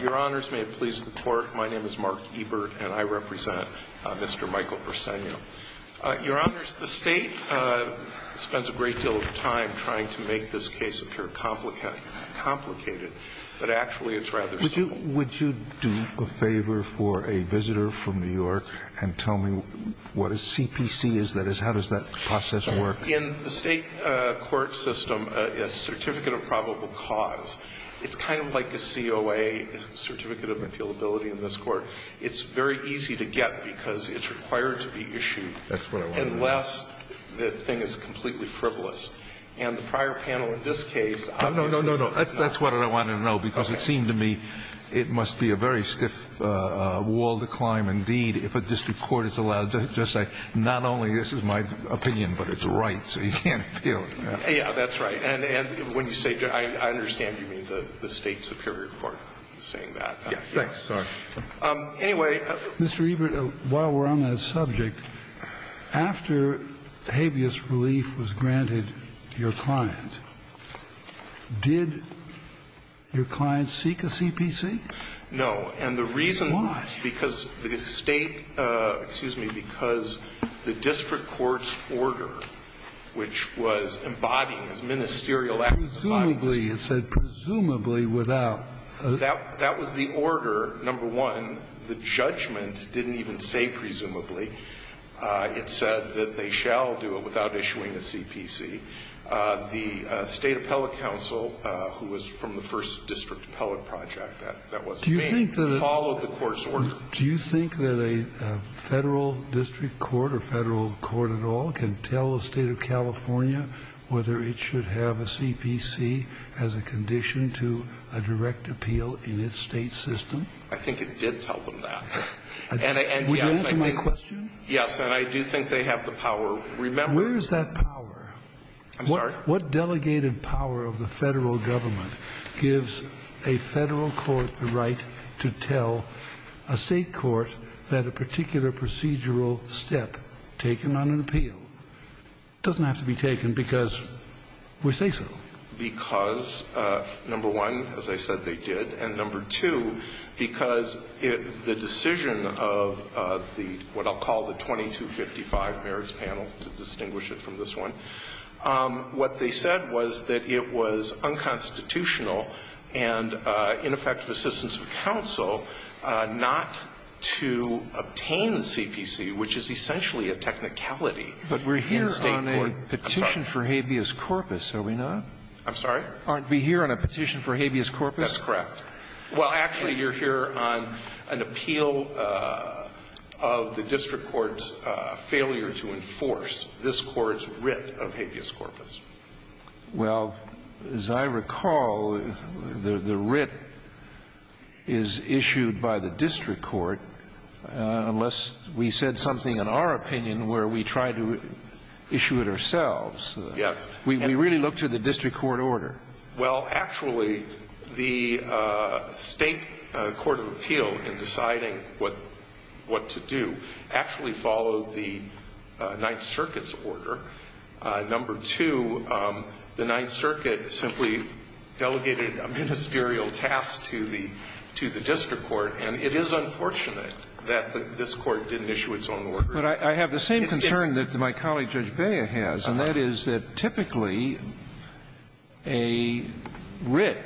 Your Honors, may it please the Court, my name is Mark Ebert, and I represent Mr. Michael Briseno. Your Honors, the State spends a great deal of time trying to make this case appear complicated, but actually it's rather simple. Would you do a favor for a visitor from New York and tell me what a CPC is, that is, how does that process work? In the State court system, a Certificate of Probable Cause, it's kind of like a COA, a Certificate of Appealability in this court. It's very easy to get because it's required to be issued unless the thing is completely frivolous. And the prior panel in this case obviously said it's not. No, no, no, no, that's what I wanted to know, because it seemed to me it must be a very stiff wall to climb. Indeed, if a district court is allowed to just say, not only this is my opinion, but it's right, so you can't appeal it. Yeah, that's right. And when you say, I understand you mean the State superior court is saying that. Yeah. Thanks. Sorry. Anyway. Mr. Ebert, while we're on that subject, after habeas relief was granted to your client, did your client seek a CPC? No. And the reason why. Why? Because the State, excuse me, because the district court's order, which was embodying this ministerial act. Presumably. It said presumably without. That was the order, number one. The judgment didn't even say presumably. It said that they shall do it without issuing a CPC. The State Appellate Council, who was from the first district appellate project that was made, followed the court's order. Do you think that a federal district court or federal court at all can tell the State of California whether it should have a CPC as a condition to a direct appeal in its State system? I think it did tell them that. And I. Would you answer my question? Yes. And I do think they have the power. Remember. Where is that power? I'm sorry? What delegated power of the federal government gives a federal court the right to tell a State court that a particular procedural step taken on an appeal doesn't have to be taken because we say so. Because, number one, as I said, they did. And number two, because the decision of the, what I'll call the 2255 merits panel, to distinguish it from this one, what they said was that it was unconstitutional and ineffective assistance of counsel not to obtain the CPC, which is essentially a technicality in State court. But we're here on a petition for habeas corpus, are we not? I'm sorry? Aren't we here on a petition for habeas corpus? That's correct. Well, actually, you're here on an appeal of the district court's failure to enforce this court's writ of habeas corpus. Well, as I recall, the writ is issued by the district court, unless we said something in our opinion where we tried to issue it ourselves. Yes. We really looked to the district court order. Well, actually, the State court of appeal in deciding what to do actually followed the Ninth Circuit's order. Number two, the Ninth Circuit simply delegated a ministerial task to the district court, and it is unfortunate that this court didn't issue its own order. But I have the same concern that my colleague Judge Bea has, and that is that typically a writ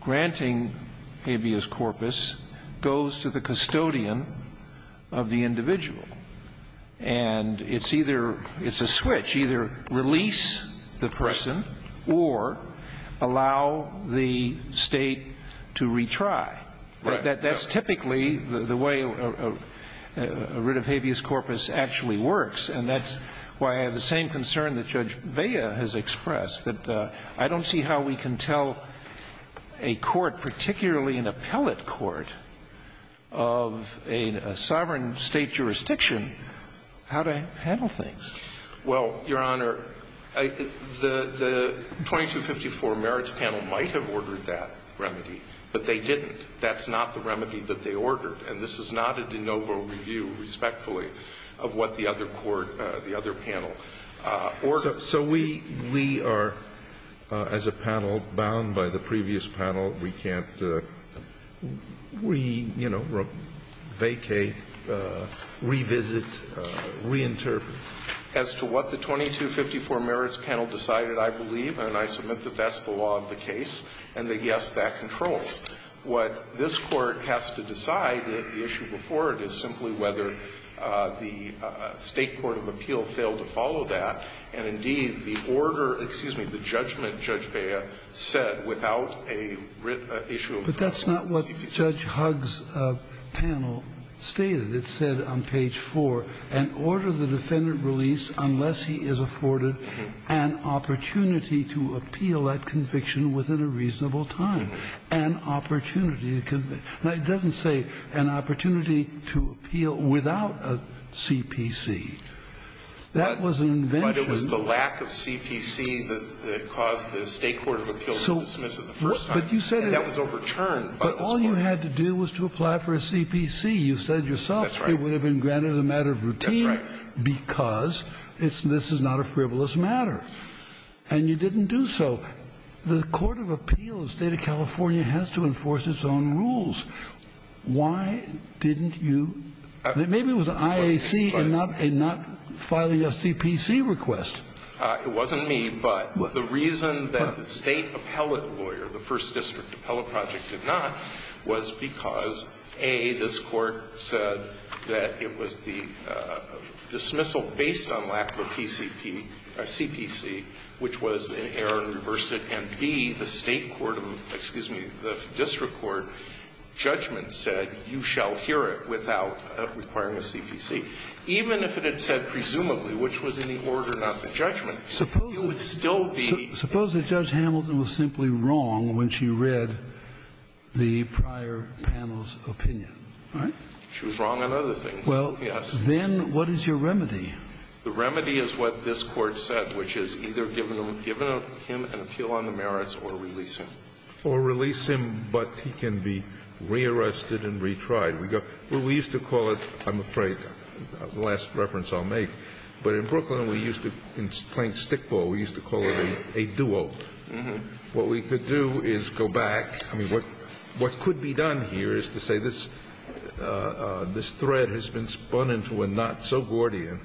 granting habeas corpus goes to the custodian of the individual. And it's either — it's a switch. Either release the person or allow the State to retry. Right. That's typically the way a writ of habeas corpus actually works. And that's why I have the same concern that Judge Bea has expressed, that I don't see how we can tell a court, particularly an appellate court, of a sovereign State jurisdiction, how to handle things. Well, Your Honor, the 2254 merits panel might have ordered that remedy, but they didn't. That's not the remedy that they ordered. And this is not a de novo review, respectfully, of what the other court, the other panel ordered. So we are, as a panel, bound by the previous panel. We can't, you know, vacate, revisit, reinterpret. As to what the 2254 merits panel decided, I believe, and I submit that that's the law of the case, and that, yes, that controls. What this Court has to decide, the issue before it, is simply whether the State court of appeal failed to follow that. And, indeed, the order, excuse me, the judgment Judge Bea said without a issue of a CPC. But that's not what Judge Huggs' panel stated. It said on page 4, an order the defendant released unless he is afforded an opportunity to appeal that conviction within a reasonable time. An opportunity to convict. Now, it doesn't say an opportunity to appeal without a CPC. That was an invention. But it was the lack of CPC that caused the State court of appeal to dismiss it the first time. And that was overturned by this Court. But all you had to do was to apply for a CPC. You said yourself it would have been granted as a matter of routine because this is not a frivolous matter. And you didn't do so. The court of appeal, the State of California, has to enforce its own rules. Why didn't you? Maybe it was IAC and not filing a CPC request. It wasn't me. But the reason that the State appellate lawyer, the First District Appellate Project did not was because, A, this Court said that it was the dismissal based on lack of a PCP, a CPC, which was an error and reversed it. And, B, the State court of, excuse me, the district court judgment said you shall hear it without requiring a CPC. Even if it had said presumably, which was in the order, not the judgment, it would still be. Suppose that Judge Hamilton was simply wrong when she read the prior panel's opinion. Right? She was wrong on other things. Well, then what is your remedy? The remedy is what this Court said, which is either give him an appeal on the merits or release him. Or release him, but he can be rearrested and retried. We used to call it, I'm afraid, the last reference I'll make, but in Brooklyn we used to, playing stickball, we used to call it a duo. What we could do is go back. I mean, what could be done here is to say this thread has been spun into a knot so Gordian.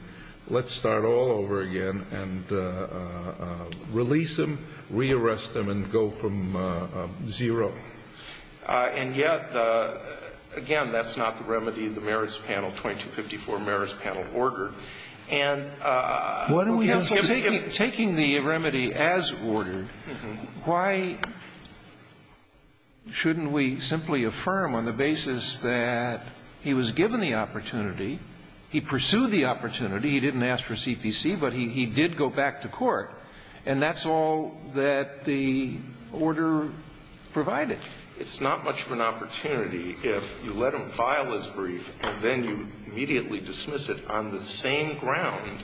Let's start all over again and release him, rearrest him, and go from zero. And yet, again, that's not the remedy of the merits panel, 2254 merits panel order. And taking the remedy as ordered, why shouldn't we simply affirm on the basis that he was given the opportunity, he pursued the opportunity, he didn't ask for CPC, And that's all that the order provided. It's not much of an opportunity if you let him file his brief and then you immediately dismiss it on the same ground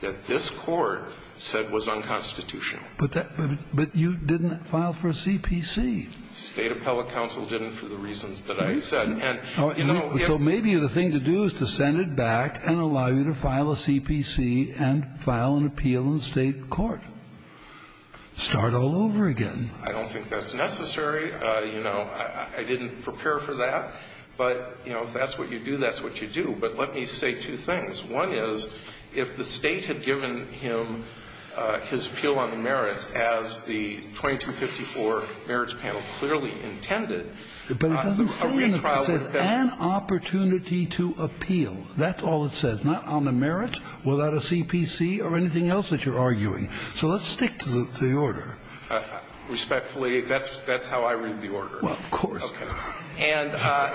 that this Court said was unconstitutional. But you didn't file for CPC. State appellate counsel didn't for the reasons that I said. So maybe the thing to do is to send it back and allow you to file a CPC and file an appeal in the State court. Start all over again. I don't think that's necessary. You know, I didn't prepare for that. But, you know, if that's what you do, that's what you do. But let me say two things. One is, if the State had given him his appeal on the merits as the 2254 merits panel clearly intended, But it doesn't say in it, it says an opportunity to appeal. That's all it says. It's not on the merit without a CPC or anything else that you're arguing. So let's stick to the order. Respectfully, that's how I read the order. Well, of course. And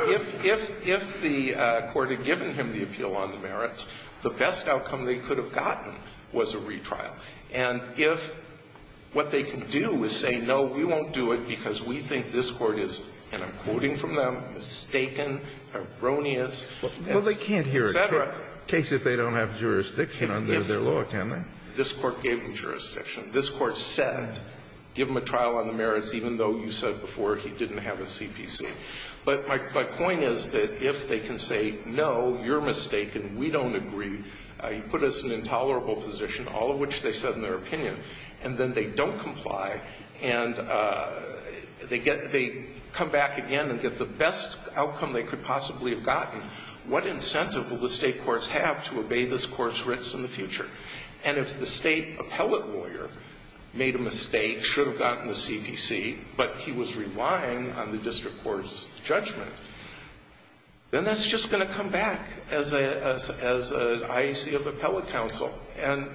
if the Court had given him the appeal on the merits, the best outcome they could have gotten was a retrial. And if what they can do is say, no, we won't do it because we think this Court is, and I'm quoting from them, mistaken, erroneous, et cetera. Case if they don't have jurisdiction under their law, can they? This Court gave them jurisdiction. This Court said, give him a trial on the merits, even though you said before he didn't have a CPC. But my point is that if they can say, no, you're mistaken, we don't agree, you put us in an intolerable position, all of which they said in their opinion, and then they don't comply, and they get they come back again and get the best outcome they could possibly have gotten. What incentive will the State courts have to obey this Court's writs in the future? And if the State appellate lawyer made a mistake, should have gotten the CPC, but he was relying on the district court's judgment, then that's just going to come back as an IEC of appellate counsel, and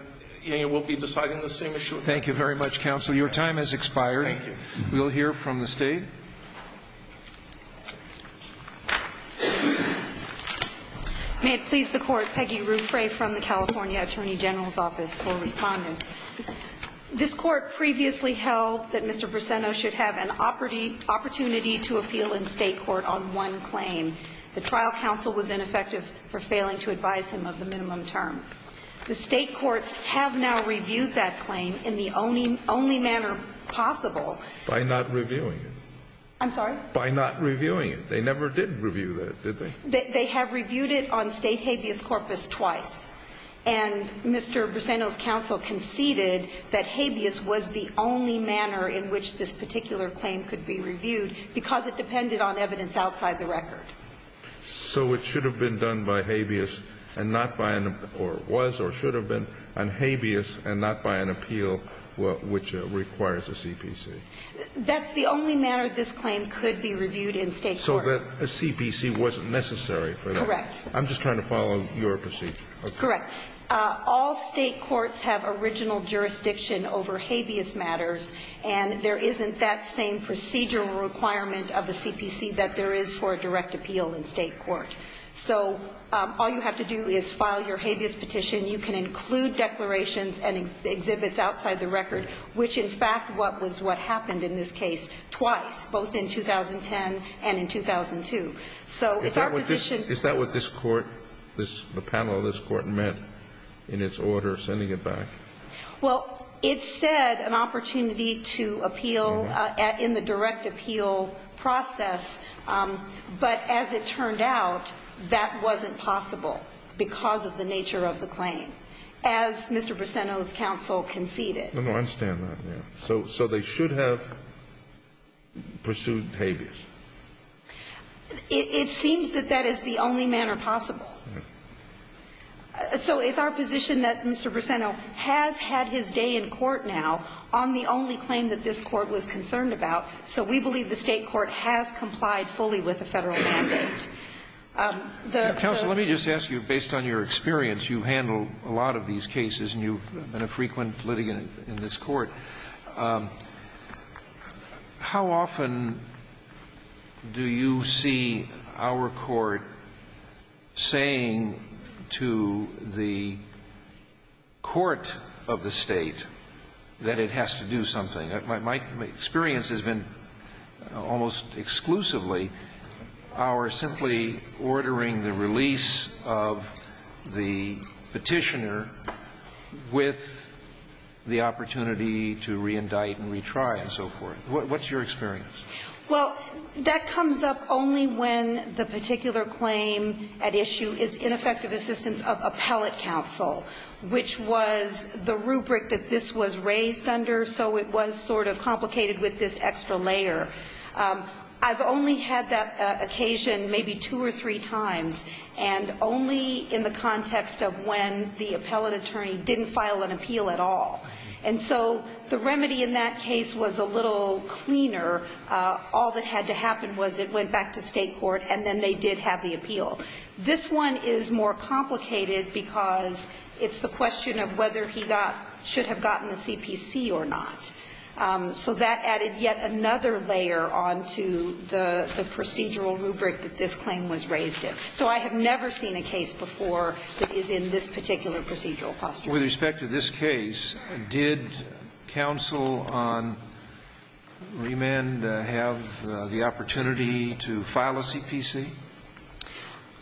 we'll be deciding the same issue. Thank you very much, counsel. Your time has expired. Thank you. We'll hear from the State. May it please the Court, Peggy Ruffray from the California Attorney General's Office for Respondent. This Court previously held that Mr. Brissetto should have an opportunity to appeal in State court on one claim. The trial counsel was ineffective for failing to advise him of the minimum term. The State courts have now reviewed that claim in the only manner possible. By not reviewing it. I'm sorry? By not reviewing it. They never did review that, did they? They have reviewed it on State habeas corpus twice. And Mr. Brissetto's counsel conceded that habeas was the only manner in which this particular claim could be reviewed because it depended on evidence outside the record. So it should have been done by habeas and not by, or was or should have been on habeas and not by an appeal which requires a CPC. That's the only manner this claim could be reviewed in State court. So that a CPC wasn't necessary for that? Correct. I'm just trying to follow your procedure. Correct. All State courts have original jurisdiction over habeas matters and there isn't that same procedural requirement of the CPC that there is for a direct appeal in State court. So all you have to do is file your habeas petition. You can include declarations and exhibits outside the record, which in fact was what happened in this case twice, both in 2010 and in 2002. Is that what this court, the panel of this court, meant in its order sending it back? Well, it said an opportunity to appeal in the direct appeal process. But as it turned out, that wasn't possible because of the nature of the claim. As Mr. Brissetto's counsel conceded. I understand that. So they should have pursued habeas? It seems that that is the only manner possible. So it's our position that Mr. Brissetto has had his day in court now on the only claim that this court was concerned about. So we believe the State court has complied fully with the Federal mandate. Counsel, let me just ask you, based on your experience, you handle a lot of these cases, and you've been a frequent litigant in this court. How often do you see our court saying to the court of the State that it has to do something? My experience has been almost exclusively our simply ordering the release of the petitioner with the opportunity to reindict and retry and so forth. What's your experience? Well, that comes up only when the particular claim at issue is ineffective assistance of appellate counsel, which was the rubric that this was raised under, so it was sort of complicated with this extra layer. I've only had that occasion maybe two or three times, and only in the context of when the appellate attorney didn't file an appeal at all. And so the remedy in that case was a little cleaner. All that had to happen was it went back to State court, and then they did have the appeal. This one is more complicated because it's the question of whether he got – should have gotten the CPC or not. So that added yet another layer onto the procedural rubric that this claim was raised in. So I have never seen a case before that is in this particular procedural posture. With respect to this case, did counsel on remand have the opportunity to file a CPC?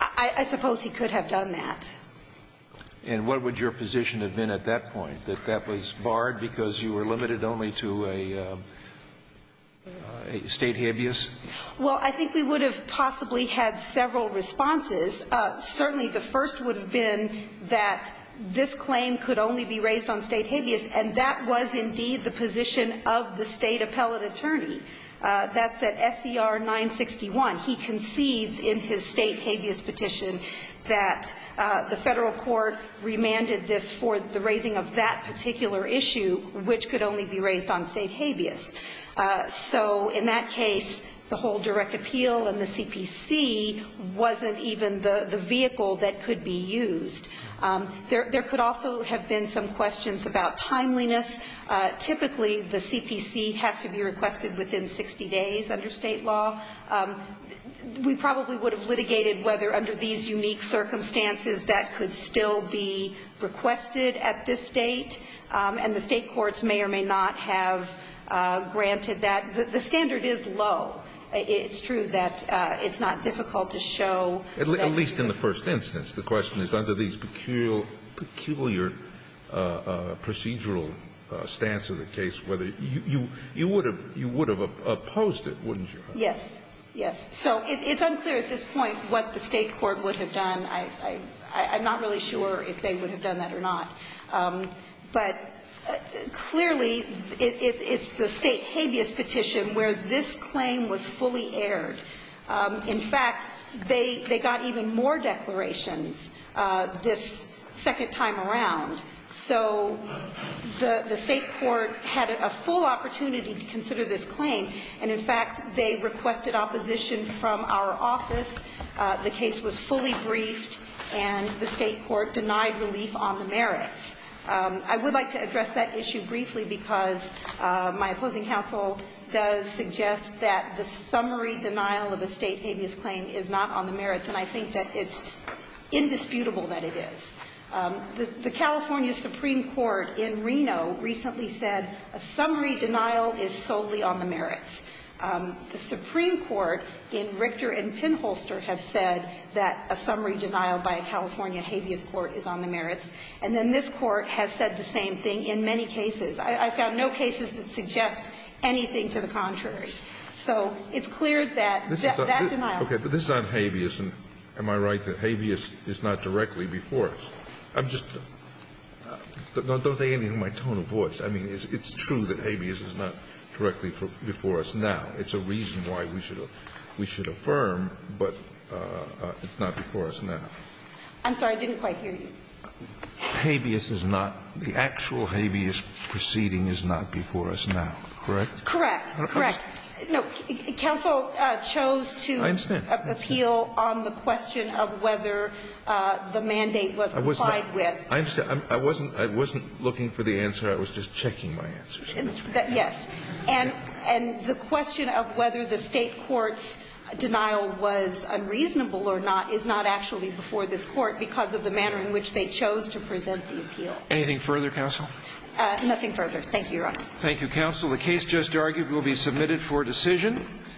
I suppose he could have done that. And what would your position have been at that point, that that was barred because you were limited only to a State habeas? Well, I think we would have possibly had several responses. Certainly the first would have been that this claim could only be raised on State habeas, and that was indeed the position of the State appellate attorney. That's at SCR 961. He concedes in his State habeas petition that the Federal court remanded this for the raising of that particular issue, which could only be raised on State habeas. So in that case, the whole direct appeal and the CPC wasn't even the vehicle that could be used. There could also have been some questions about timeliness. Typically the CPC has to be requested within 60 days under State law. We probably would have litigated whether under these unique circumstances that could still be requested at this date, and the State courts may or may not have granted that. The standard is low. It's true that it's not difficult to show that. At least in the first instance. The question is under these peculiar procedural stance of the case, whether you would have opposed it, wouldn't you? Yes. Yes. So it's unclear at this point what the State court would have done. I'm not really sure if they would have done that or not. But clearly it's the State habeas petition where this claim was fully aired. In fact, they got even more declarations this second time around. So the State court had a full opportunity to consider this claim. And in fact, they requested opposition from our office. The case was fully briefed, and the State court denied relief on the merits. I would like to address that issue briefly because my opposing counsel does suggest that the summary denial of a State habeas claim is not on the merits. And I think that it's indisputable that it is. The California Supreme Court in Reno recently said a summary denial is solely on the merits. The Supreme Court in Richter and Pinholster have said that a summary denial by a California habeas court is on the merits. And then this Court has said the same thing in many cases. I found no cases that suggest anything to the contrary. So it's clear that that denial is on the merits. Okay. But this is on habeas, and am I right that habeas is not directly before us? I'm just don't take any of my tone of voice. I mean, it's true that habeas is not directly before us now. It's a reason why we should affirm, but it's not before us now. I'm sorry. I didn't quite hear you. Habeas is not the actual habeas proceeding is not before us now, correct? Correct. Correct. No. Counsel chose to appeal on the question of whether the mandate was applied with. I understand. I wasn't looking for the answer. I was just checking my answers. Yes. And the question of whether the State court's denial was unreasonable or not is not actually before this Court because of the manner in which they chose to present the appeal. Anything further, Counsel? Nothing further. Thank you, Your Honor. Thank you, Counsel. The case just argued will be submitted for decision.